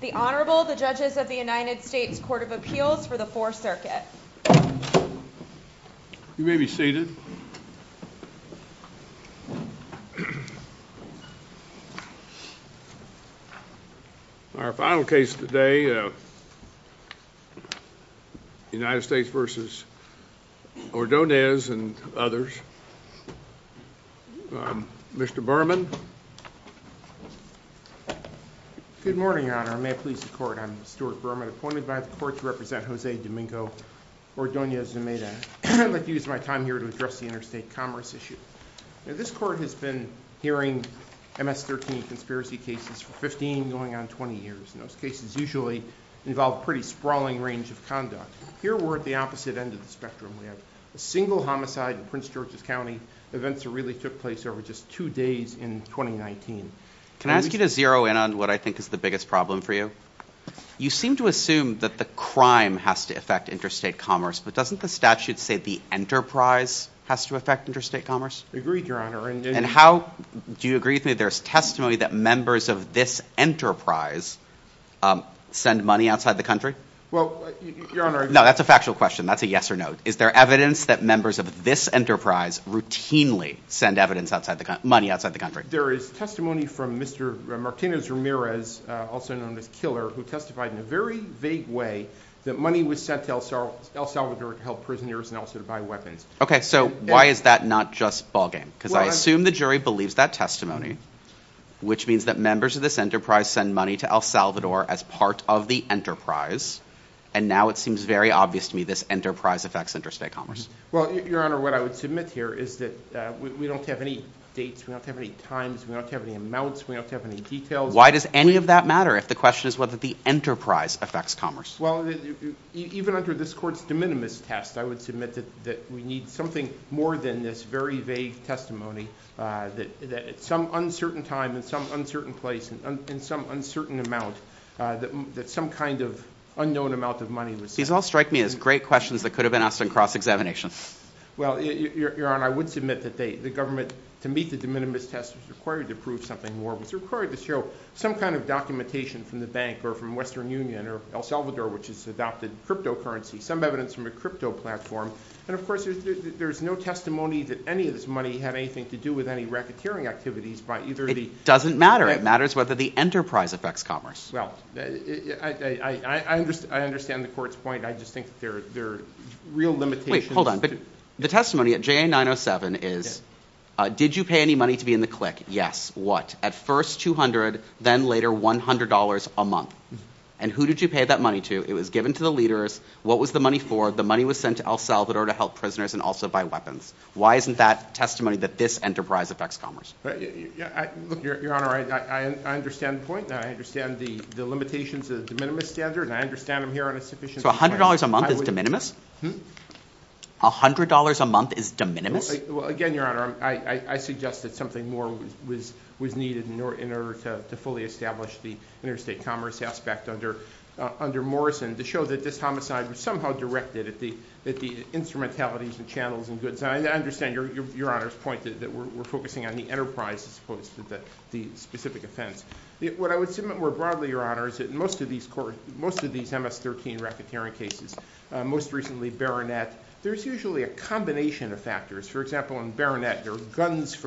The Honorable, the Judges of the United States Court of Appeals for the Fourth Circuit. You may be seated. Our final case today, United States v. Ordonez and others. Mr. Berman. Good morning, Your Honor. I'm Stuart Berman, appointed by the Court to represent Jose Domingo Ordonez-Zometa. I'd like to use my time here to address the interstate commerce issue. This Court has been hearing MS-13 conspiracy cases for 15 going on 20 years. Those cases usually involve a pretty sprawling range of conduct. Here, we're at the opposite end of the spectrum. We have a single homicide in Prince George's County, events that really took place over just two days in 2019. Can I ask you to zero in on what I think is the biggest problem for you? You seem to assume that the crime has to affect interstate commerce, but doesn't the statute say the enterprise has to affect interstate commerce? Agreed, Your Honor. And how do you agree with me there's testimony that members of this enterprise send money outside the country? Well, Your Honor, I agree. No, that's a factual question. That's a yes or no. Is there evidence that members of this enterprise routinely send money outside the country? There is testimony from Mr. Martinez-Ramirez, also known as Killer, who testified in a very vague way that money was sent to El Salvador to help prisoners and also to buy weapons. Okay, so why is that not just ballgame? Because I assume the jury believes that testimony, which means that members of this enterprise send money to El Salvador as part of the enterprise. And now it seems very obvious to me this enterprise affects interstate commerce. Well, Your Honor, what I would submit here is that we don't have any dates, we don't have any times, we don't have any amounts, we don't have any details. Why does any of that matter if the question is whether the enterprise affects commerce? Well, even under this Court's de minimis test, I would submit that we need something more than this very vague testimony that at some uncertain time, in some uncertain place, in some uncertain amount, that some kind of unknown amount of money was sent. These all strike me as great questions that could have been asked in cross-examination. Well, Your Honor, I would submit that the government, to meet the de minimis test, was required to prove something more. It was required to show some kind of documentation from the bank or from Western Union or El Salvador, which has adopted cryptocurrency, some evidence from a crypto platform. And, of course, there's no testimony that any of this money had anything to do with any racketeering activities by either the— It doesn't matter. It matters whether the enterprise affects commerce. Well, I understand the Court's point. I just think there are real limitations— Wait. Hold on. The testimony at JA907 is, did you pay any money to be in the clique? Yes. What? At first $200, then later $100 a month. And who did you pay that money to? It was given to the leaders. What was the money for? The money was sent to El Salvador to help prisoners and also buy weapons. Why isn't that testimony that this enterprise affects commerce? Your Honor, I understand the point, and I understand the limitations of the de minimis standard, and I understand I'm here on a sufficient— So $100 a month is de minimis? $100 a month is de minimis? Well, again, Your Honor, I suggest that something more was needed in order to fully establish the interstate commerce aspect under Morrison to show that this homicide was somehow directed at the instrumentalities and channels and goods. And I understand Your Honor's point that we're focusing on the enterprise as opposed to the specific offense. What I would submit more broadly, Your Honor, is that most of these MS-13 racketeering cases, most recently Baronet, there's usually a combination of factors. For example, in Baronet, there are guns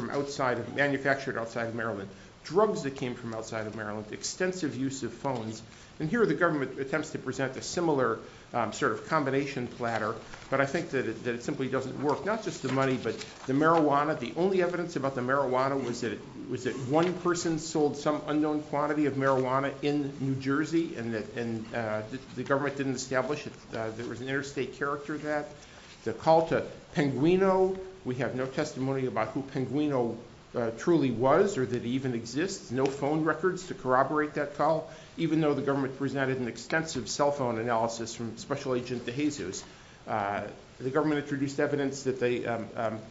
manufactured outside of Maryland, drugs that came from outside of Maryland, extensive use of phones. And here the government attempts to present a similar sort of combination platter, but I think that it simply doesn't work. Not just the money, but the marijuana. The only evidence about the marijuana was that one person sold some unknown quantity of marijuana in New Jersey, and the government didn't establish that there was an interstate character to that. The call to Pinguino, we have no testimony about who Pinguino truly was or that he even exists. No phone records to corroborate that call, even though the government presented an extensive cell phone analysis from Special Agent DeJesus. The government introduced evidence that they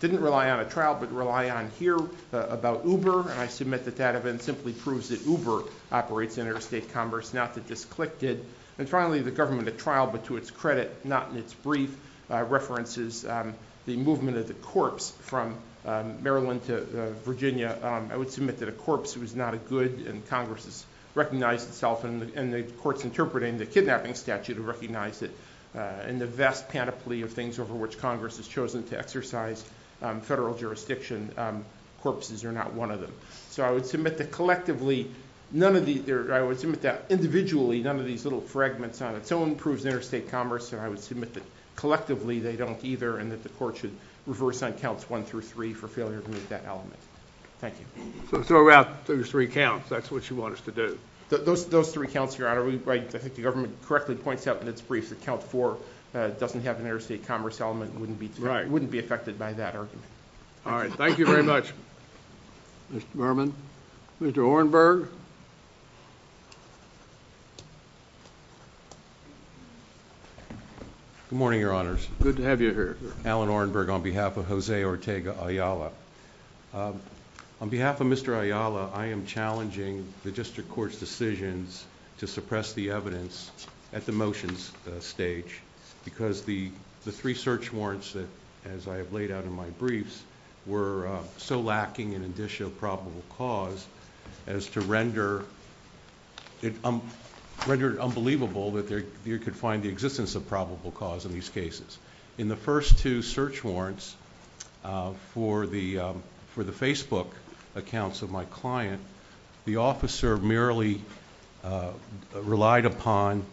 didn't rely on a trial, but rely on here about Uber, and I submit that that event simply proves that Uber operates interstate commerce, not that this clique did. And finally, the government at trial, but to its credit, not in its brief, references the movement of the corpse from Maryland to Virginia. I would submit that a corpse was not a good, and Congress has recognized itself, and the courts interpreting the kidnapping statute have recognized it. And the vast panoply of things over which Congress has chosen to exercise federal jurisdiction, corpses are not one of them. So I would submit that collectively, none of these, I would submit that individually, none of these little fragments on its own proves interstate commerce, and I would submit that collectively they don't either, and that the court should reverse on counts one through three for failure to move that element. Thank you. So throughout those three counts, that's what you want us to do? Those three counts, Your Honor, I think the government correctly points out in its brief that count four doesn't have an interstate commerce element and wouldn't be affected by that argument. All right. Thank you very much. Mr. Berman. Mr. Orenberg. Good morning, Your Honors. Good to have you here. Alan Orenberg on behalf of Jose Ortega Ayala. On behalf of Mr. Ayala, I am challenging the district court's decisions to suppress the evidence at the motions stage because the three search warrants that, as I have laid out in my briefs, were so lacking in indicia of probable cause as to render it unbelievable that you could find the existence of probable cause in these cases. In the first two search warrants for the Facebook accounts of my client, the officer merely relied upon...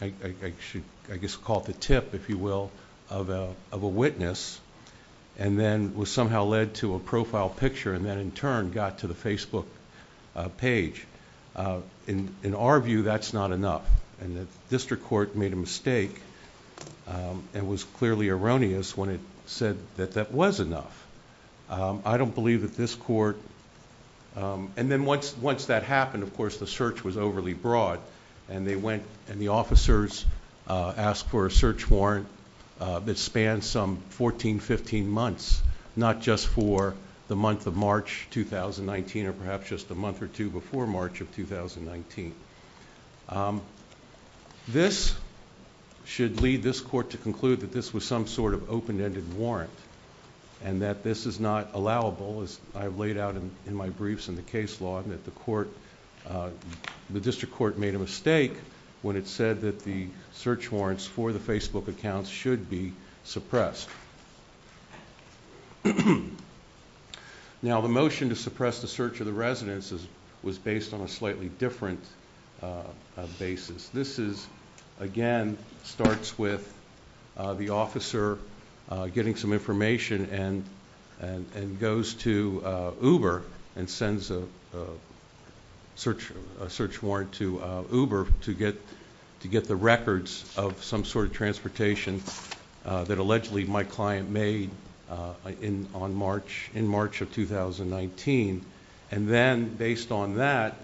I guess you could call it the tip, if you will, of a witness and then was somehow led to a profile picture and then in turn got to the Facebook page. In our view, that's not enough. The district court made a mistake and was clearly erroneous when it said that that was enough. I don't believe that this court... and then once that happened, of course, the search was overly broad and the officers asked for a search warrant that spanned some 14, 15 months, not just for the month of March 2019 or perhaps just a month or two before March of 2019. This should lead this court to conclude that this was some sort of open-ended warrant and that this is not allowable, as I have laid out in my briefs in the case law, and that the district court made a mistake when it said that the search warrants for the Facebook accounts should be suppressed. Now, the motion to suppress the search of the residence was based on a slightly different basis. This, again, starts with the officer getting some information and goes to Uber and sends a search warrant to Uber to get the records of some sort of transportation that allegedly my client made in March of 2019. Then, based on that,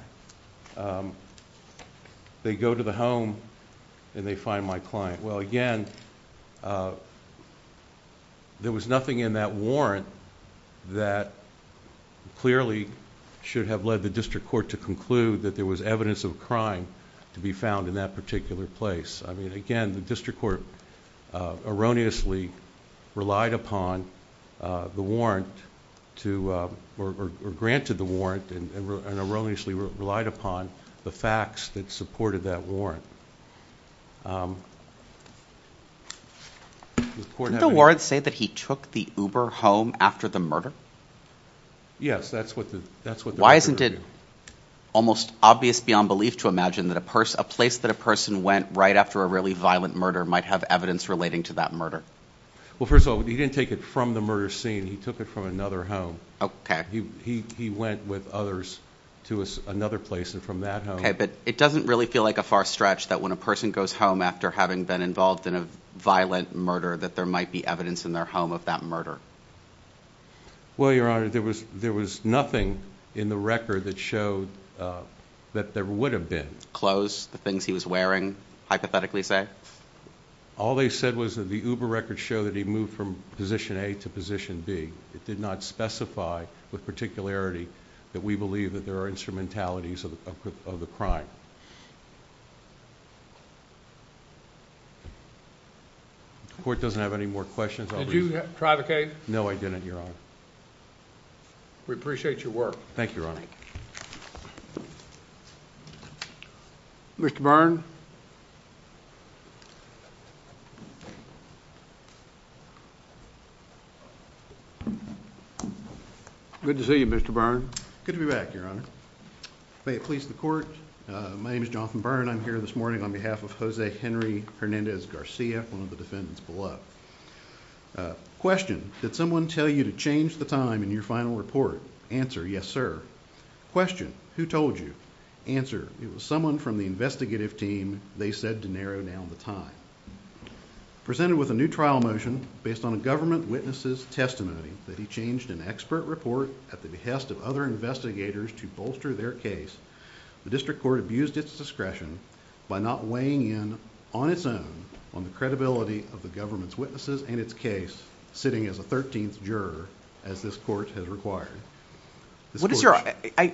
they go to the home and they find my client. Well, again, there was nothing in that warrant that clearly should have led the district court to conclude that there was evidence of a crime to be found in that particular place. I mean, again, the district court erroneously relied upon the warrant or granted the warrant and erroneously relied upon the facts that supported that warrant. Didn't the warrant say that he took the Uber home after the murder? Yes, that's what the murder did. Almost obvious beyond belief to imagine that a place that a person went right after a really violent murder might have evidence relating to that murder. Well, first of all, he didn't take it from the murder scene. He took it from another home. Okay. He went with others to another place and from that home. Okay, but it doesn't really feel like a far stretch that when a person goes home after having been involved in a violent murder that there might be evidence in their home of that murder. Well, Your Honor, there was nothing in the record that showed that there would have been. Clothes, the things he was wearing, hypothetically say? All they said was that the Uber record showed that he moved from position A to position B. It did not specify with particularity that we believe that there are instrumentalities of the crime. The court doesn't have any more questions. Did you try the case? No, I didn't, Your Honor. We appreciate your work. Thank you, Your Honor. Mr. Byrne? Good to see you, Mr. Byrne. Good to be back, Your Honor. May it please the court, my name is Jonathan Byrne. I'm here this morning on behalf of Jose Henry Hernandez-Garcia, one of the defendants below. Question, did someone tell you to change the time in your final report? Answer, yes, sir. Question, who told you? Answer, it was someone from the investigative team. They said to narrow down the time. Presented with a new trial motion based on a government witness's testimony that he changed an expert report at the behest of other investigators to bolster their case, the district court abused its discretion by not weighing in on its own on the credibility of the government's witnesses and its case sitting as a 13th juror as this court has required. I'm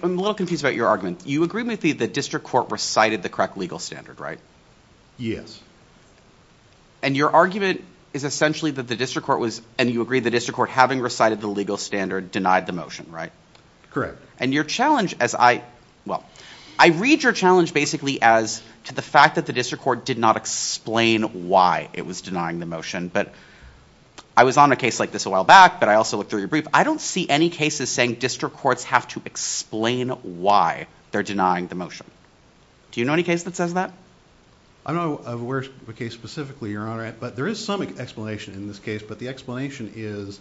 a little confused about your argument. You agree with me that the district court recited the correct legal standard, right? Yes. And your argument is essentially that the district court was, and you agree the district court having recited the legal standard denied the motion, right? Correct. And your challenge as I, well, I read your challenge basically as to the fact that the district court did not explain why it was denying the motion. But I was on a case like this a while back, but I also looked through your brief. I don't see any cases saying district courts have to explain why they're denying the motion. Do you know any case that says that? I'm not aware of a case specifically, Your Honor, but there is some explanation in this case. But the explanation is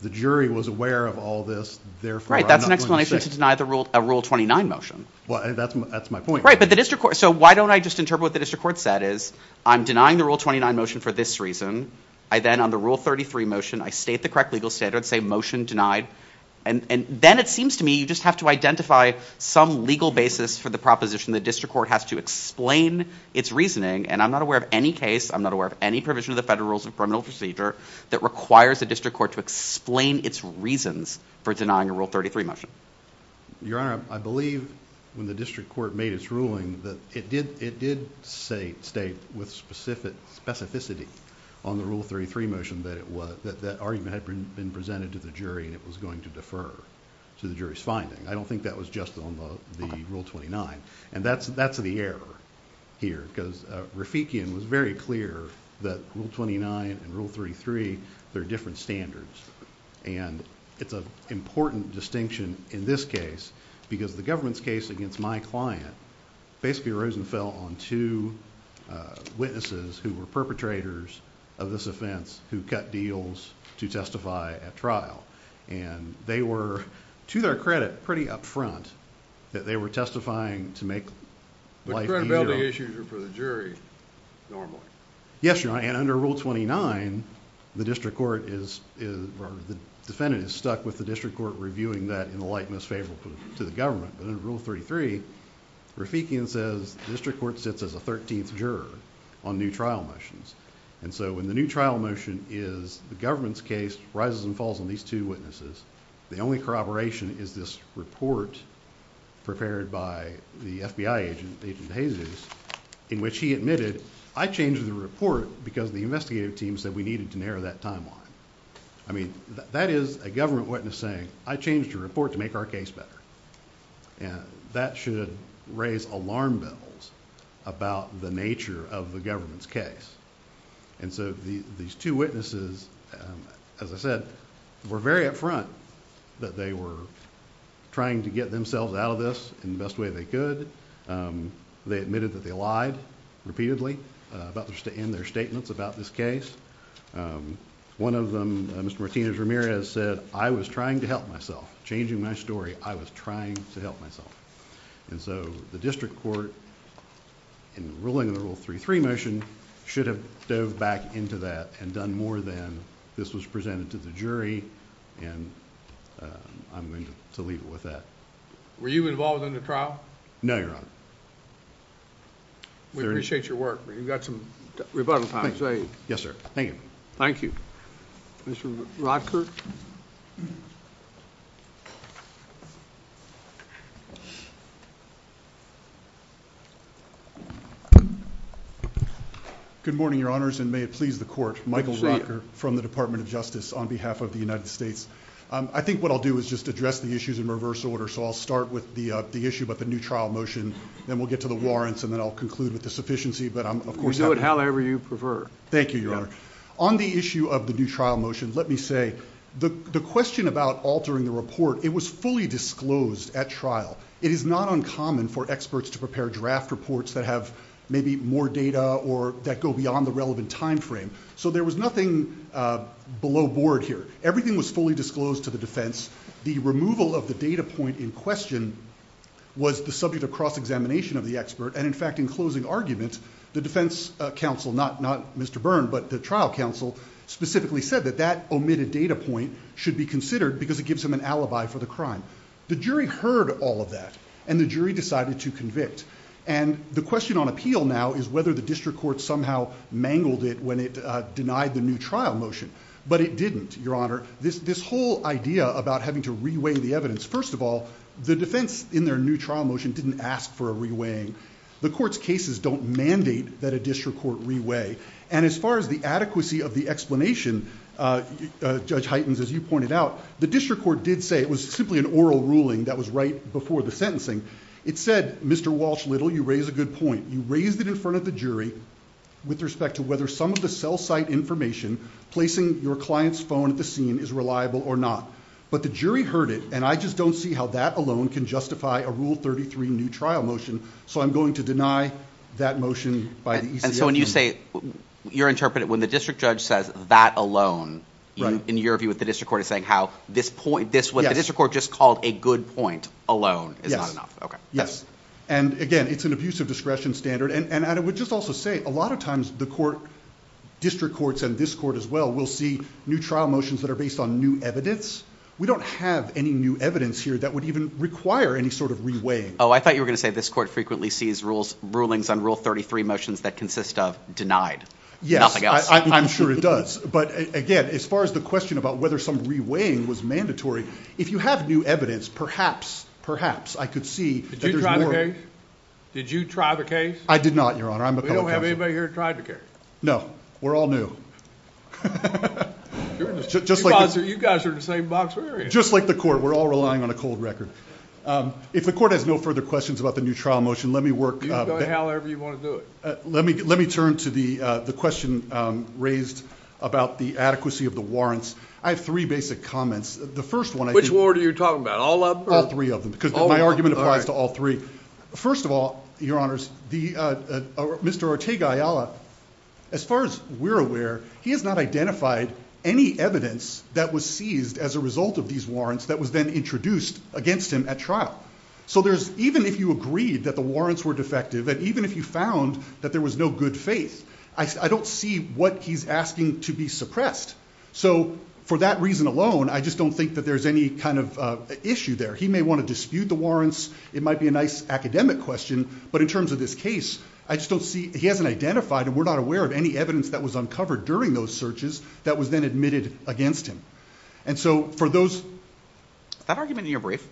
the jury was aware of all this. Therefore, I'm not going to say. Right, that's an explanation to deny a Rule 29 motion. Well, that's my point. Right, but the district court, so why don't I just interpret what the district court said is I'm denying the Rule 29 motion for this reason. I then on the Rule 33 motion, I state the correct legal standard, say motion denied. And then it seems to me you just have to identify some legal basis for the proposition the district court has to explain its reasoning. And I'm not aware of any case, I'm not aware of any provision of the Federal Rules of Criminal Procedure, that requires the district court to explain its reasons for denying a Rule 33 motion. Your Honor, I believe when the district court made its ruling that it did state with specificity on the Rule 33 motion that that argument had been presented to the jury and it was going to defer to the jury's finding. I don't think that was just on the Rule 29. And that's the error here because Rafikian was very clear that Rule 29 and Rule 33, they're different standards. And it's an important distinction in this case because the government's case against my client basically arose and fell on two witnesses who were perpetrators of this offense who cut deals to testify at trial. And they were, to their credit, pretty upfront that they were testifying to make life easier. But credibility issues are for the jury normally. Yes, Your Honor, and under Rule 29, the defendant is stuck with the district court reviewing that in the light most favorable to the government. But under Rule 33, Rafikian says the district court sits as a 13th juror on new trial motions. And so when the new trial motion is the government's case rises and falls on these two witnesses, the only corroboration is this report prepared by the FBI agent, Agent DeJesus, in which he admitted, I changed the report because the investigative team said we needed to narrow that timeline. I mean, that is a government witness saying, I changed the report to make our case better. That should raise alarm bells about the nature of the government's case. And so these two witnesses, as I said, were very upfront that they were trying to get themselves out of this in the best way they could. They admitted that they lied repeatedly in their statements about this case. One of them, Mr. Martinez-Ramirez, said, I was trying to help myself. Changing my story, I was trying to help myself. And so the district court, in ruling on the Rule 33 motion, should have dove back into that and done more than this was presented to the jury, and I'm going to leave it with that. Were you involved in the trial? No, Your Honor. We appreciate your work, but you've got some rebuttal time. Yes, sir. Thank you. Thank you. Mr. Rodker? Good morning, Your Honors, and may it please the Court. Michael Rodker from the Department of Justice on behalf of the United States. I think what I'll do is just address the issues in reverse order, so I'll start with the issue about the new trial motion, then we'll get to the warrants, and then I'll conclude with the sufficiency. We'll do it however you prefer. Thank you, Your Honor. On the issue of the new trial motion, let me say, the question about altering the report, it was fully disclosed at trial. It is not uncommon for experts to prepare draft reports that have maybe more data or that go beyond the relevant time frame, so there was nothing below board here. Everything was fully disclosed to the defense. The removal of the data point in question was the subject of cross-examination of the expert, and, in fact, in closing argument, the defense counsel, not Mr. Byrne, but the trial counsel specifically said that that omitted data point should be considered because it gives him an alibi for the crime. The jury heard all of that, and the jury decided to convict, and the question on appeal now is whether the district court somehow mangled it when it denied the new trial motion, but it didn't, Your Honor. This whole idea about having to reweigh the evidence, first of all, the defense in their new trial motion didn't ask for a reweighing. The court's cases don't mandate that a district court reweigh, and as far as the adequacy of the explanation, Judge Heitens, as you pointed out, the district court did say it was simply an oral ruling that was right before the sentencing. It said, Mr. Walsh-Little, you raise a good point. You raised it in front of the jury with respect to whether some of the cell site information placing your client's phone at the scene is reliable or not, but the jury heard it, and I just don't see how that alone can justify a Rule 33 new trial motion, so I'm going to deny that motion by the ECF. And so when you say you're interpreting when the district judge says that alone, in your view, what the district court is saying, how this point, what the district court just called a good point alone is not enough. Yes, and again, it's an abuse of discretion standard, and I would just also say a lot of times the court, district courts and this court as well, will see new trial motions that are based on new evidence. We don't have any new evidence here that would even require any sort of reweighing. Oh, I thought you were going to say this court frequently sees rulings on Rule 33 motions that consist of denied, nothing else. Yes, I'm sure it does. But again, as far as the question about whether some reweighing was mandatory, if you have new evidence, perhaps I could see that there's more... Did you try the case? I did not, Your Honor. We don't have anybody here who tried the case. No, we're all new. You guys are the same box we're in. Just like the court, we're all relying on a cold record. If the court has no further questions about the new trial motion, let me work... You can go ahead however you want to do it. Let me turn to the question raised about the adequacy of the warrants. I have three basic comments. Which warrant are you talking about, all of them? All three of them, because my argument applies to all three. First of all, Your Honors, Mr. Ortega-Ayala, as far as we're aware, he has not identified any evidence that was seized as a result of these warrants that was then introduced against him at trial. So even if you agreed that the warrants were defective, and even if you found that there was no good faith, I don't see what he's asking to be suppressed. So for that reason alone, I just don't think that there's any kind of issue there. He may want to dispute the warrants. It might be a nice academic question. But in terms of this case, I just don't see... He hasn't identified, and we're not aware of any evidence that was uncovered during those searches that was then admitted against him. And so for those... Is that argument in your brief?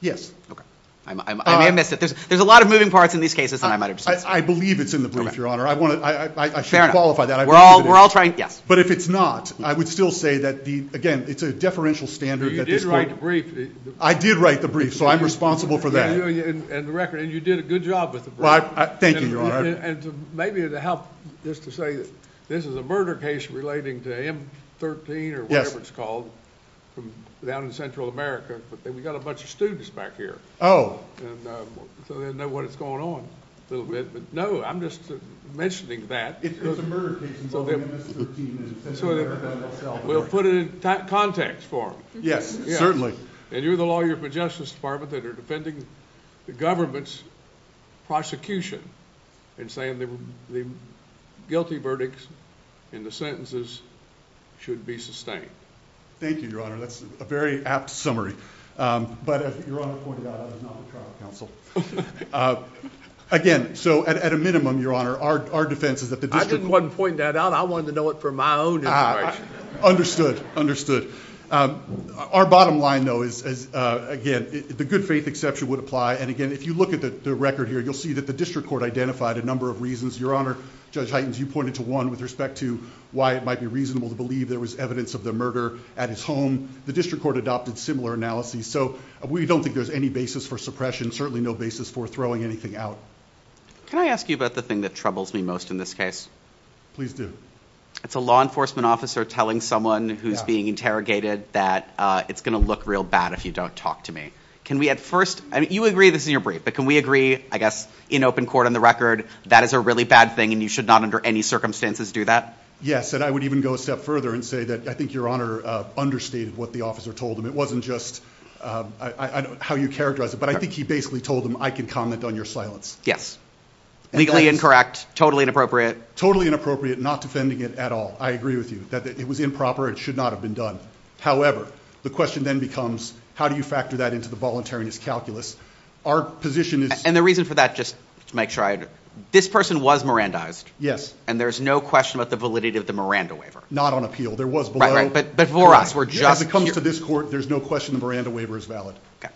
Yes. Okay. I may have missed it. There's a lot of moving parts in these cases that I might have missed. I believe it's in the brief, Your Honor. Fair enough. I should qualify that. We're all trying... Yes. But if it's not, I would still say that, again, it's a deferential standard that this court... You did write the brief. I did write the brief, so I'm responsible for that. And you did a good job with the brief. Thank you, Your Honor. Maybe to help, just to say that this is a murder case relating to M13 or whatever it's called, down in Central America. But we've got a bunch of students back here. Oh. So they know what is going on a little bit. But no, I'm just mentioning that. It's a murder case involving M13. It's in Central America and El Salvador. We'll put it in context for them. Yes, certainly. And you're the lawyer for the Justice Department that are defending the government's prosecution and saying the guilty verdicts in the sentences should be sustained. Thank you, Your Honor. That's a very apt summary. But as Your Honor pointed out, that is not the trial counsel. Again, so at a minimum, Your Honor, our defense is that the district... I didn't want to point that out. I wanted to know it for my own information. Understood. Understood. Our bottom line, though, is, again, the good faith exception would apply. And again, if you look at the record here, you'll see that the district court identified a number of reasons. Your Honor, Judge Huytens, you pointed to one with respect to why it might be reasonable to believe there was evidence of the murder at his home. The district court adopted similar analyses. So we don't think there's any basis for suppression, certainly no basis for throwing anything out. Can I ask you about the thing that troubles me most in this case? Please do. It's a law enforcement officer telling someone who's being interrogated that it's going to look real bad if you don't talk to me. Can we at first... I mean, you agree this is your brief, but can we agree, I guess, in open court, on the record, that is a really bad thing and you should not under any circumstances do that? Yes, and I would even go a step further and say that I think Your Honor understated what the officer told him. It wasn't just how you characterized it, but I think he basically told him, I can comment on your silence. Yes. Legally incorrect, totally inappropriate. Totally inappropriate, not defending it at all. I agree with you. It was improper. It should not have been done. However, the question then becomes, how do you factor that into the voluntariness calculus? Our position is... And the reason for that, just to make sure I... This person was Mirandized. Yes. And there's no question about the validity of the Miranda Waiver. Not on appeal. There was below. Right, but for us, we're just... As it comes to this court, there's no question the Miranda Waiver is valid. Okay.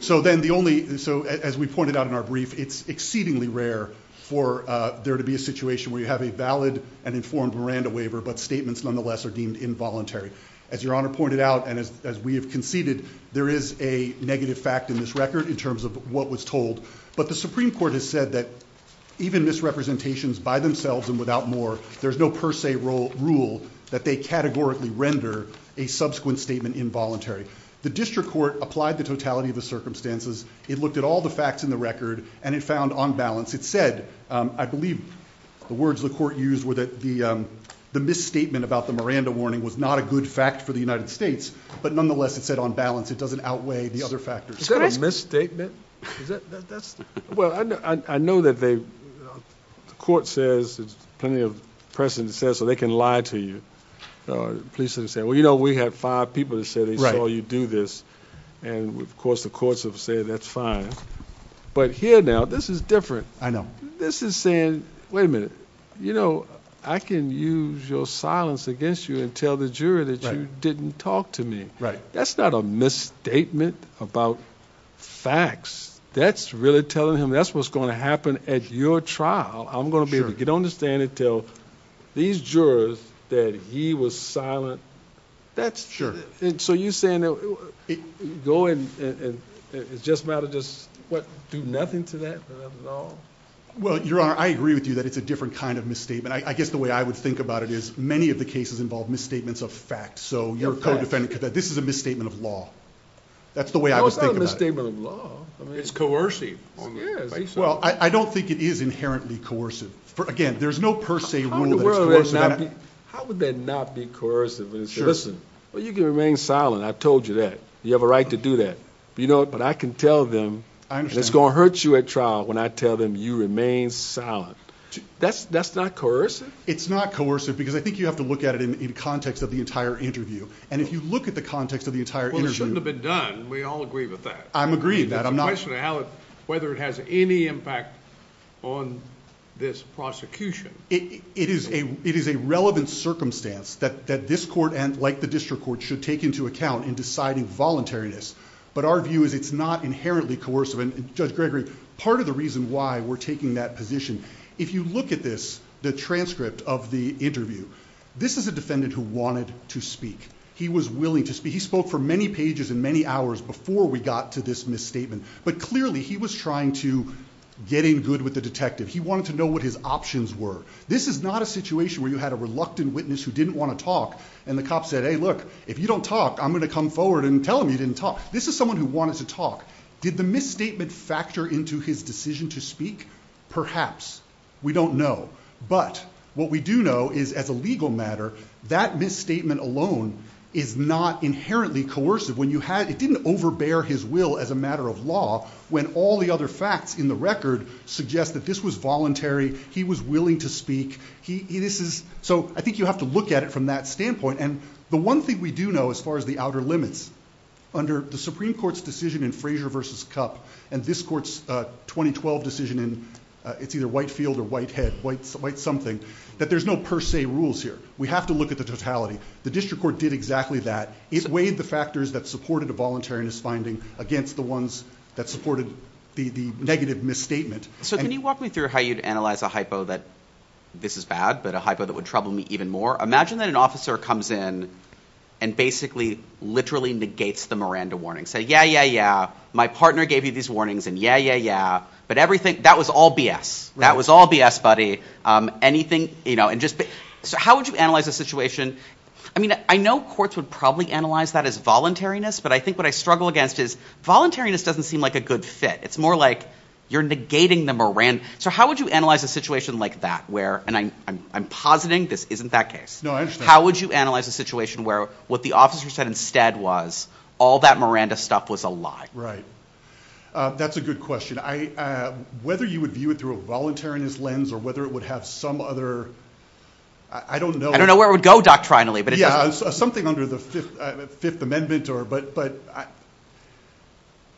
So then the only... So as we pointed out in our brief, it's exceedingly rare for there to be a situation where you have a valid and informed Miranda Waiver, but statements nonetheless are deemed involuntary. As Your Honor pointed out, and as we have conceded, there is a negative fact in this record in terms of what was told. But the Supreme Court has said that even misrepresentations by themselves and without more, there's no per se rule that they categorically render a subsequent statement involuntary. The district court applied the totality of the circumstances. It looked at all the facts in the record, and it found, on balance, it said... I believe the words the court used were that the misstatement about the Miranda warning was not a good fact for the United States, but nonetheless, it said, on balance, it doesn't outweigh the other factors. Is that a misstatement? Is that... That's... Well, I know that they... The court says... There's plenty of precedent to say, so they can lie to you. Police say, well, you know, we have five people that say they saw you do this. And, of course, the courts have said that's fine. But here now, this is different. I know. This is saying... Wait a minute. You know, I can use your silence against you and tell the juror that you didn't talk to me. Right. That's not a misstatement about facts. That's really telling him that's what's going to happen at your trial. I'm going to be able to get on the stand and tell these jurors that he was silent. That's... So you're saying that... Go and... It's just a matter of just, what, do nothing to that? That's all? Well, Your Honor, I agree with you that it's a different kind of misstatement. I guess the way I would think about it is many of the cases involve misstatements of facts. So you're co-defendant could... This is a misstatement of law. That's the way I would think about it. It's not a misstatement of law. It's coercive. Well, I don't think it is inherently coercive. Again, there's no per se rule that it's coercive. How in the world would that not be coercive? Listen, you can remain silent. I've told you that. You have a right to do that. But I can tell them... I understand. I can put you at trial when I tell them you remain silent. That's not coercive? It's not coercive because I think you have to look at it in context of the entire interview. And if you look at the context of the entire interview... Well, it shouldn't have been done. We all agree with that. I'm agreeing with that. It's a question of whether it has any impact on this prosecution. It is a relevant circumstance that this court, like the district court, should take into account in deciding voluntariness. But our view is it's not inherently coercive. And Judge Gregory, part of the reason why we're taking that position... If you look at this, the transcript of the interview, this is a defendant who wanted to speak. He was willing to speak. He spoke for many pages and many hours before we got to this misstatement. But clearly, he was trying to get in good with the detective. He wanted to know what his options were. This is not a situation where you had a reluctant witness who didn't want to talk, and the cop said, Hey, look, if you don't talk, I'm going to come forward and tell them you didn't talk. This is someone who wanted to talk. Did the misstatement factor into his decision to speak? Perhaps. We don't know. But what we do know is, as a legal matter, that misstatement alone is not inherently coercive. It didn't overbear his will as a matter of law when all the other facts in the record suggest that this was voluntary. He was willing to speak. So I think you have to look at it from that standpoint. And the one thing we do know, as far as the outer limits, under the Supreme Court's decision in Frazier v. Cup, and this court's 2012 decision in it's either Whitefield or Whitehead, White something, that there's no per se rules here. We have to look at the totality. The district court did exactly that. It weighed the factors that supported a voluntary misfinding against the ones that supported the negative misstatement. So can you walk me through how you'd analyze a hypo that, this is bad, but a hypo that would trouble me even more? Imagine that an officer comes in and basically literally negates the Miranda warning. Say, yeah, yeah, yeah. My partner gave you these warnings, and yeah, yeah, yeah. But everything, that was all BS. That was all BS, buddy. Anything, you know, and just, so how would you analyze a situation? I mean, I know courts would probably analyze that as voluntariness, but I think what I struggle against is voluntariness doesn't seem like a good fit. It's more like you're negating the Miranda. So how would you analyze a situation like that, where, and I'm positing this isn't that case. How would you analyze a situation where what the officer said instead was all that Miranda stuff was a lie? Right. That's a good question. Whether you would view it through a voluntariness lens or whether it would have some other, I don't know. I don't know where it would go doctrinally. Yeah, something under the Fifth Amendment or, but,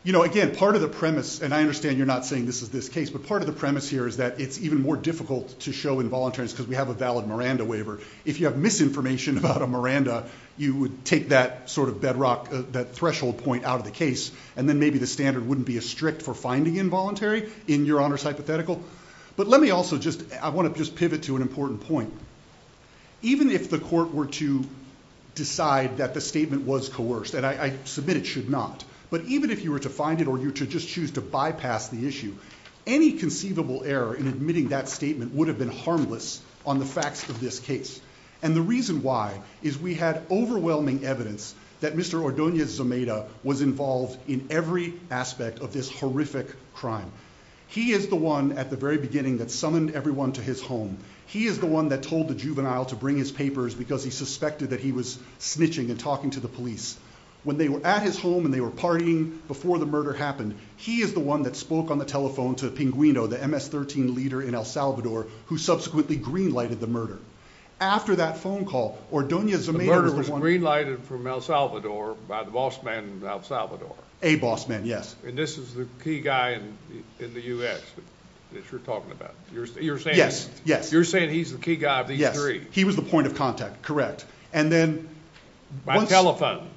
you know, again, part of the premise, and I understand you're not saying this is this case, but part of the premise here is that it's even more difficult to show involuntariness because we have a valid Miranda waiver. If you have misinformation about a Miranda, you would take that sort of bedrock, that threshold point out of the case, and then maybe the standard wouldn't be as strict for finding involuntary in your honors hypothetical. But let me also just, I want to just pivot to an important point. Even if the court were to decide that the statement was coerced, and I submit it should not, but even if you were to find it or you were to just choose to bypass the issue, any conceivable error in admitting that statement would have been harmless on the facts of this case. And the reason why is we had overwhelming evidence that Mr. Ordonez Zameda was involved in every aspect of this horrific crime. He is the one at the very beginning that summoned everyone to his home. He is the one that told the juvenile to bring his papers because he suspected that he was snitching and talking to the police. When they were at his home and they were partying before the murder happened, he is the one that spoke on the telephone to Pinguino, the MS-13 leader in El Salvador, who subsequently green-lighted the murder. After that phone call, Ordonez Zameda was the one... The murder was green-lighted from El Salvador by the boss man in El Salvador. A boss man, yes. And this is the key guy in the U.S. that you're talking about. You're saying... Yes, yes. You're saying he's the key guy of these three. Yes, he was the point of contact, correct. And then... By telephone.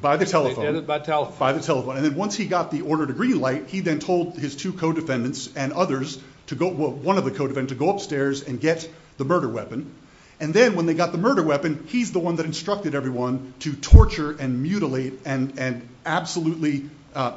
By the telephone. They did it by telephone. By the telephone. And then once he got the order to green-light, he then told his two co-defendants and others, one of the co-defendants, to go upstairs and get the murder weapon. And then when they got the murder weapon, he's the one that instructed everyone to torture and mutilate and absolutely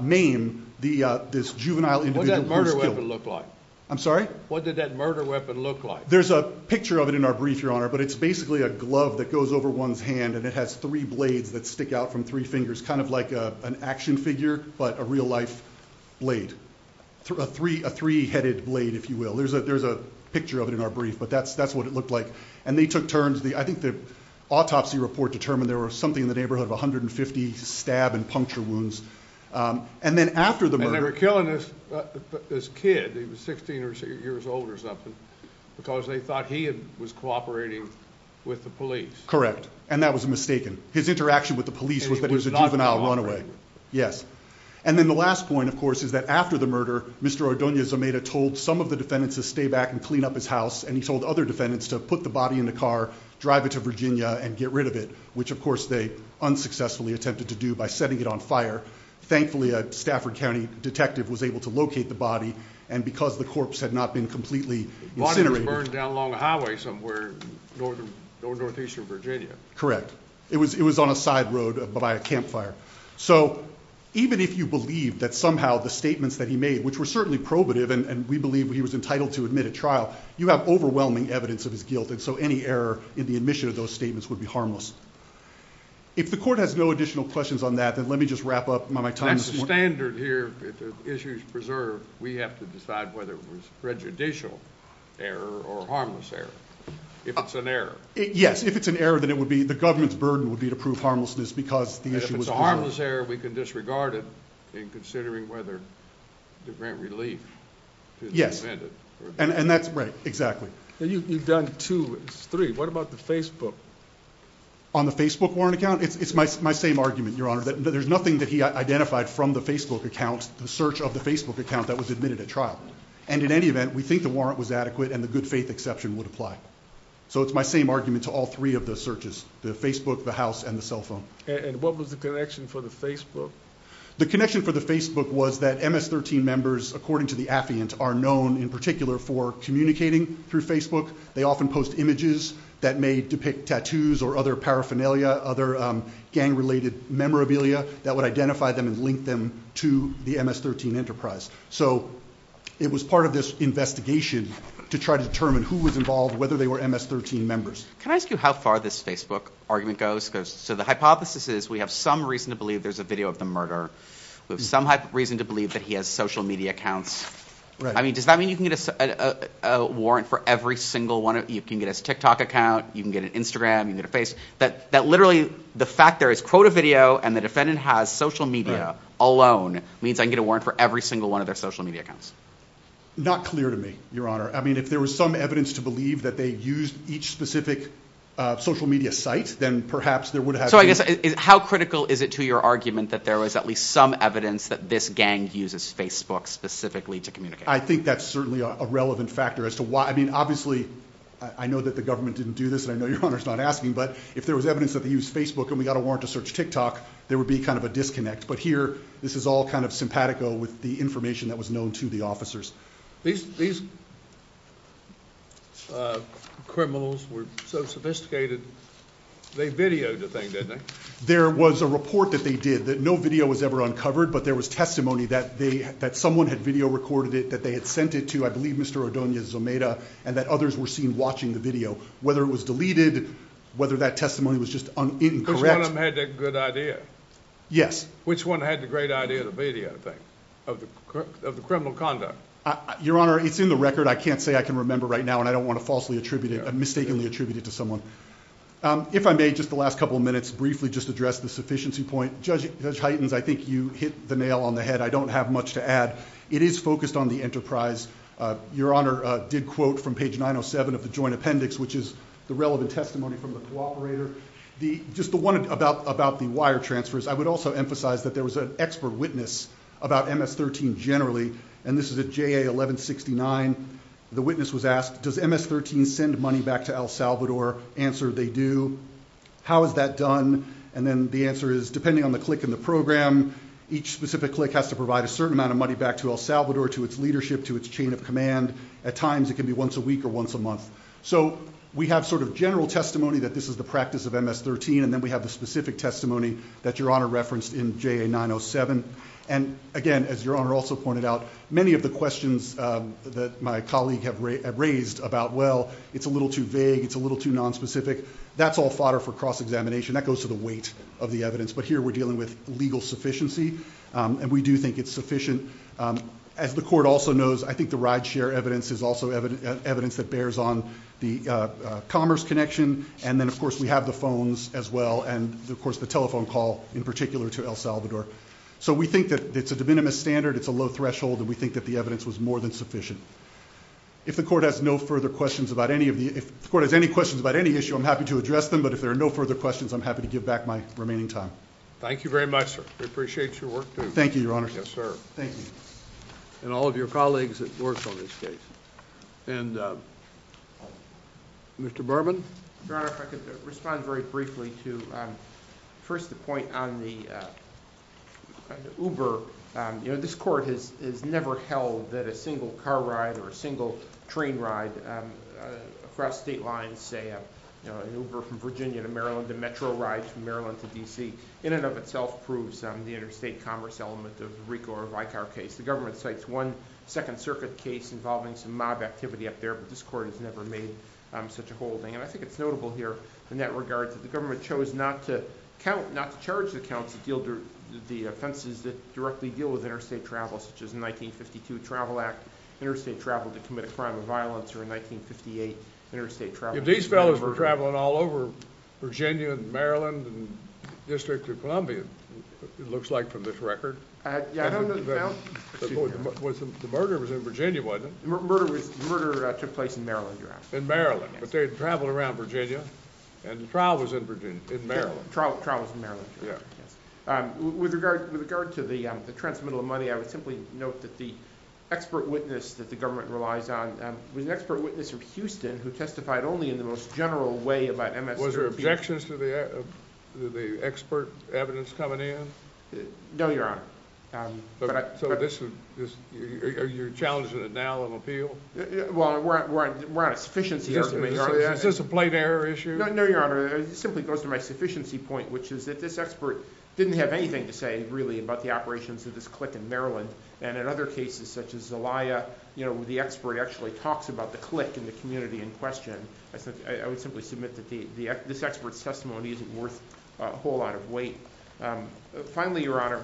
maim this juvenile individual who was killed. What did that murder weapon look like? I'm sorry? What did that murder weapon look like? There's a picture of it in our brief, Your Honor, but it's basically a glove that goes over one's hand and it has three blades that stick out from three fingers, kind of like an action figure but a real-life blade. A three-headed blade, if you will. There's a picture of it in our brief, but that's what it looked like. And they took turns. I think the autopsy report determined there was something in the neighborhood of 150 stab and puncture wounds. And then after the murder... And they were killing this kid. He was 16 or so years old or something, because they thought he was cooperating with the police. Correct. And that was mistaken. His interaction with the police was that he was a juvenile runaway. He was not cooperating. Yes. And then the last point, of course, is that after the murder, Mr. Ordonez-Zameda told some of the defendants to stay back and clean up his house, and he told other defendants to put the body in the car, drive it to Virginia, and get rid of it, which, of course, they unsuccessfully attempted to do by setting it on fire. Thankfully, a Stafford County detective was able to locate the body, and because the corpse had not been completely incinerated... The body was burned down along a highway somewhere in northeastern Virginia. Correct. It was on a side road by a campfire. So even if you believe that somehow the statements that he made, which were certainly probative, and we believe he was entitled to admit at trial, you have overwhelming evidence of his guilt, and so any error in the admission of those statements would be harmless. If the court has no additional questions on that, then let me just wrap up. That's the standard here. If the issue is preserved, we have to decide whether it was prejudicial error or harmless error, if it's an error. Yes. If it's an error, then the government's burden would be to prove harmlessness because the issue was preserved. And if it's a harmless error, we can disregard it in considering whether to grant relief to the defendant. Yes. And that's right. Exactly. You've done two. It's three. What about the Facebook? On the Facebook warrant account? It's my same argument, Your Honor, that there's nothing that he identified from the Facebook account, the search of the Facebook account, that was admitted at trial. And in any event, we think the warrant was adequate and the good faith exception would apply. So it's my same argument to all three of the searches, the Facebook, the house, and the cell phone. And what was the connection for the Facebook? The connection for the Facebook was that MS-13 members, according to the affiant, are known in particular for communicating through Facebook. They often post images that may depict tattoos or other paraphernalia, other gang-related memorabilia that would identify them and link them to the MS-13 enterprise. So it was part of this investigation to try to determine who was involved, whether they were MS-13 members. Can I ask you how far this Facebook argument goes? So the hypothesis is we have some reason to believe there's a video of the murder. We have some reason to believe that he has social media accounts. Right. I mean, does that mean you can get a warrant for every single one? You can get his TikTok account, you can get an Instagram, you can get a face. That literally the fact there is, quote, a video and the defendant has social media alone means I can get a warrant for every single one of their social media accounts. Not clear to me, Your Honor. I mean, if there was some evidence to believe that they used each specific social media site, then perhaps there would have been. So I guess how critical is it to your argument that there was at least some evidence that this gang uses Facebook specifically to communicate? I think that's certainly a relevant factor as to why. I mean, obviously, I know that the government didn't do this, and I know Your Honor's not asking, but if there was evidence that they used Facebook and we got a warrant to search TikTok, there would be kind of a disconnect. But here, this is all kind of simpatico with the information that was known to the officers. These criminals were so sophisticated, they videoed the thing, didn't they? There was a report that they did that no video was ever uncovered, but there was testimony that someone had video recorded it, that they had sent it to, I believe, Mr. Odoña Zomeda, and that others were seen watching the video, whether it was deleted, whether that testimony was just incorrect. Which one of them had a good idea? Yes. Which one had the great idea of the video thing, of the criminal conduct? Your Honor, it's in the record. I can't say I can remember right now, and I don't want to falsely attribute it, mistakenly attribute it to someone. If I may, just the last couple of minutes, briefly just address the sufficiency point. Judge Hytens, I think you hit the nail on the head. I don't have much to add. It is focused on the enterprise. Your Honor did quote from page 907 of the joint appendix, which is the relevant testimony from the cooperator. Just the one about the wire transfers, I would also emphasize that there was an expert witness about MS-13 generally, and this is at JA-1169. The witness was asked, does MS-13 send money back to El Salvador? Answer, they do. How is that done? And then the answer is, depending on the click in the program, each specific click has to provide a certain amount of money back to El Salvador, to its leadership, to its chain of command. At times, it can be once a week or once a month. So we have sort of general testimony that this is the practice of MS-13, and then we have the specific testimony that Your Honor referenced in JA-907. And again, as Your Honor also pointed out, many of the questions that my colleague have raised about, well, it's a little too vague, it's a little too nonspecific, that's all fodder for cross-examination. That goes to the weight of the evidence. But here we're dealing with legal sufficiency, and we do think it's sufficient. As the Court also knows, I think the rideshare evidence is also evidence that bears on the commerce connection, and then of course we have the phones as well, and of course the telephone call, in particular, to El Salvador. So we think that it's a de minimis standard, it's a low threshold, and we think that the evidence was more than sufficient. If the Court has no further questions about any of the, if the Court has any questions about any issue, I'm happy to address them, but if there are no further questions, I'm happy to give back my remaining time. Thank you very much, sir. We appreciate your work, too. Thank you, Your Honor. Yes, sir. Thank you. And all of your colleagues at work on this case. And Mr. Berman? Your Honor, if I could respond very briefly to, first, the point on the Uber. You know, this Court has never held that a single car ride or a single train ride across state lines, say an Uber from Virginia to Maryland, a Metro ride from Maryland to D.C., in and of itself proves the interstate commerce element of the Rico or Vicar case. The Government cites one Second Circuit case involving some mob activity up there, but this Court has never made such a holding. And I think it's notable here in that regard that the Government chose not to count, not to charge the counts, to deal with the offenses that directly deal with interstate travel, such as the 1952 Travel Act, interstate travel to commit a crime of violence, or in 1958, interstate travel... If these fellows were traveling all over Virginia and Maryland and District of Columbia, it looks like from this record... Yeah, I don't know the count. The murder was in Virginia, wasn't it? The murder took place in Maryland, Your Honor. In Maryland. But they had traveled around Virginia, and the trial was in Maryland. The trial was in Maryland, Your Honor. With regard to the transmittal of money, I would simply note that the expert witness that the Government relies on was an expert witness from Houston who testified only in the most general way about MS-3B. Was there objections to the expert evidence coming in? No, Your Honor. So this is... Are you challenging it now on appeal? Well, we're on a sufficiency argument, Your Honor. Is this a plain error issue? No, Your Honor. It simply goes to my sufficiency point, which is that this expert didn't have anything to say, really, about the operations of this CLCC in Maryland. And in other cases, such as Zelaya, where the expert actually talks about the CLCC and the community in question, I would simply submit that this expert's testimony isn't worth a whole lot of weight. Finally, Your Honor,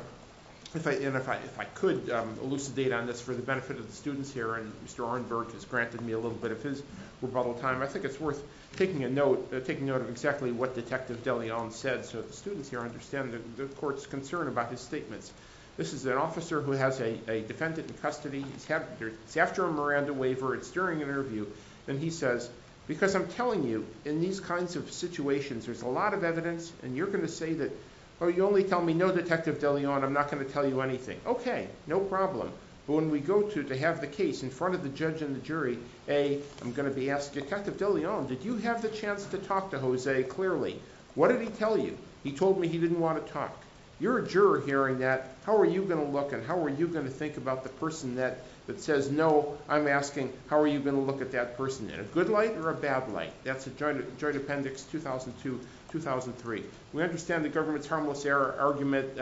and if I could elucidate on this for the benefit of the students here, and Mr. Arnberg has granted me a little bit of his rebuttal time, I think it's worth taking note of exactly what Detective De Leon said so the students here understand the court's concern about his statements. This is an officer who has a defendant in custody. It's after a Miranda waiver. It's during an interview. And he says, because I'm telling you, in these kinds of situations, there's a lot of evidence, and you're going to say that, oh, you only tell me, no, Detective De Leon, I'm not going to tell you anything. Okay, no problem. But when we go to have the case in front of the judge and the jury, A, I'm going to be asking, Detective De Leon, did you have the chance to talk to Jose clearly? What did he tell you? He told me he didn't want to talk. You're a juror hearing that. How are you going to look and how are you going to think about the person that says, no, I'm asking, how are you going to look at that person? In a good light or a bad light? That's Joint Appendix 2002-2003. We understand the government's harmless argument.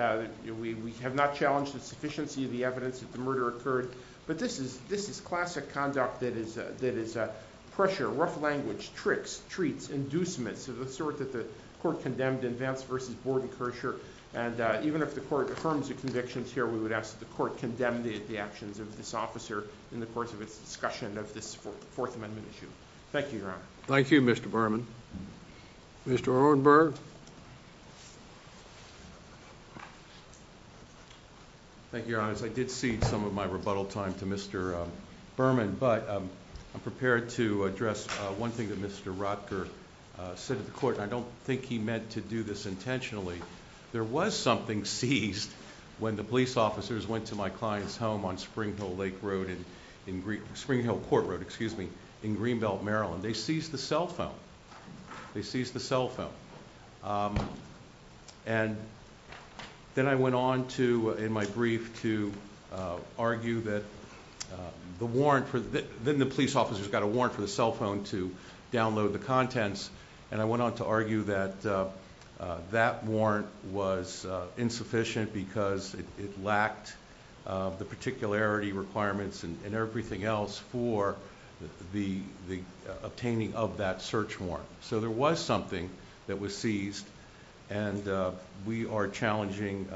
We have not challenged the sufficiency of the evidence that the murder occurred. But this is classic conduct that is pressure, rough language, tricks, treats, inducements of the sort that the court condemned in Vance v. Borden-Kercher. And even if the court affirms the convictions here, we would ask that the court condemn the actions of this officer in the course of its discussion of this Fourth Amendment issue. Thank you, Your Honor. Thank you, Mr. Berman. Mr. Orenberg. Thank you, Your Honor. I did cede some of my rebuttal time to Mr. Berman, but I'm prepared to address one thing that Mr. Rotker said to the court, and I don't think he meant to do this intentionally. There was something seized when the police officers went to my client's home on Spring Hill Court Road in Greenbelt, Maryland. They seized the cell phone. They seized the cell phone. And then I went on to, in my brief, to argue that the warrant for the – then the police officers got a warrant for the cell phone to download the contents, and I went on to argue that that warrant was insufficient because it lacked the particularity requirements and everything else for the obtaining of that search warrant. So there was something that was seized, and we are challenging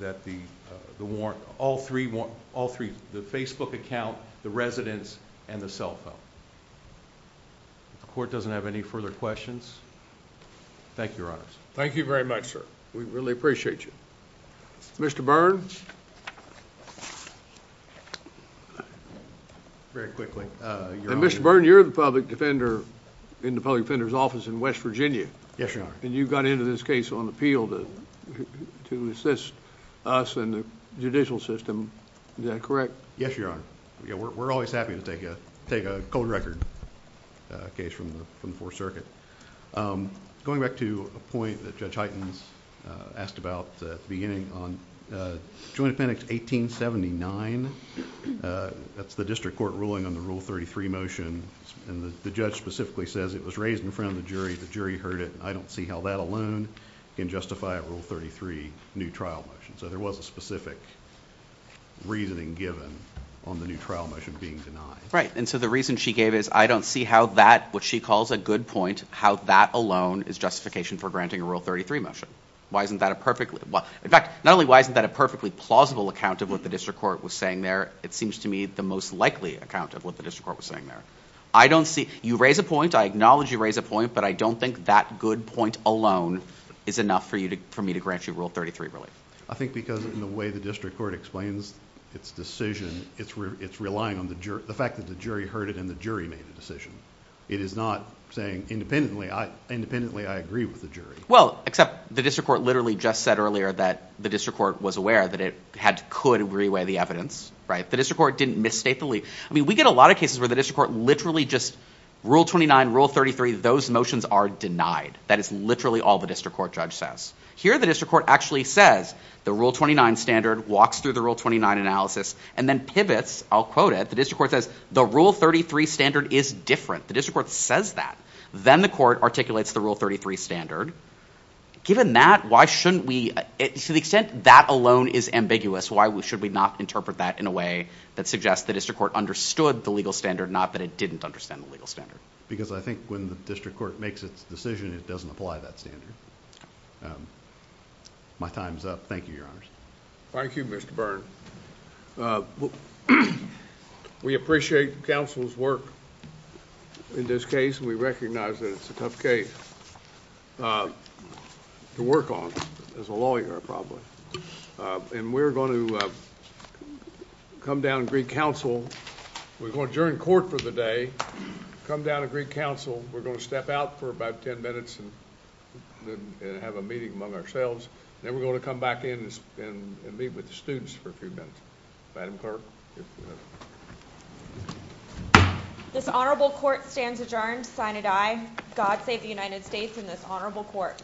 that the warrant – all three – the Facebook account, the residence, and the cell phone. The court doesn't have any further questions. Thank you, Your Honors. Thank you very much, sir. We really appreciate you. Mr. Byrne? Very quickly, Your Honor. Mr. Byrne, you're the public defender in the Public Defender's Office in West Virginia. Yes, Your Honor. And you got into this case on appeal to assist us in the judicial system. Is that correct? Yes, Your Honor. We're always happy to take a cold record case from the Fourth Circuit. Going back to a point that Judge Heitens asked about at the beginning, on Joint Appendix 1879, that's the district court ruling on the Rule 33 motion, and the judge specifically says it was raised in front of the jury, the jury heard it, and I don't see how that alone can justify a Rule 33 new trial motion. So there was a specific reasoning given on the new trial motion being denied. Right, and so the reason she gave is, I don't see how that, what she calls a good point, how that alone is justification for granting a Rule 33 motion. Why isn't that a perfectly... In fact, not only why isn't that a perfectly plausible account of what the district court was saying there, it seems to me the most likely account of what the district court was saying there. I don't see... you raise a point, I acknowledge you raise a point, but I don't think that good point alone is enough for me to grant you Rule 33, really. I think because in the way the district court explains its decision, it's relying on the fact that the jury heard it and the jury made the decision. It is not saying independently, I agree with the jury. Well, except the district court literally just said earlier that the district court was aware that it could reweigh the evidence, right? The district court didn't misstate the... I mean, we get a lot of cases where the district court literally just... Rule 29, Rule 33, those motions are denied. That is literally all the district court judge says. Here the district court actually says the Rule 29 standard, walks through the Rule 29 analysis, and then pivots, I'll quote it, the district court says the Rule 33 standard is different. The district court says that. Then the court articulates the Rule 33 standard. Given that, why shouldn't we... to the extent that alone is ambiguous, why should we not interpret that in a way that suggests the district court understood the legal standard, not that it didn't understand the legal standard? Because I think when the district court makes its decision, it doesn't apply that standard. My time's up. Thank you, Your Honors. Thank you, Mr. Byrne. We appreciate the counsel's work in this case. We recognize that it's a tough case to work on as a lawyer, probably. We're going to come down and greet counsel. We're going to adjourn court for the day, come down and greet counsel. We're going to step out for about ten minutes and have a meeting among ourselves. Then we're going to come back in and meet with the students for a few minutes. Madam Clerk. This honorable court stands adjourned. Signed, aye. God save the United States and this honorable court.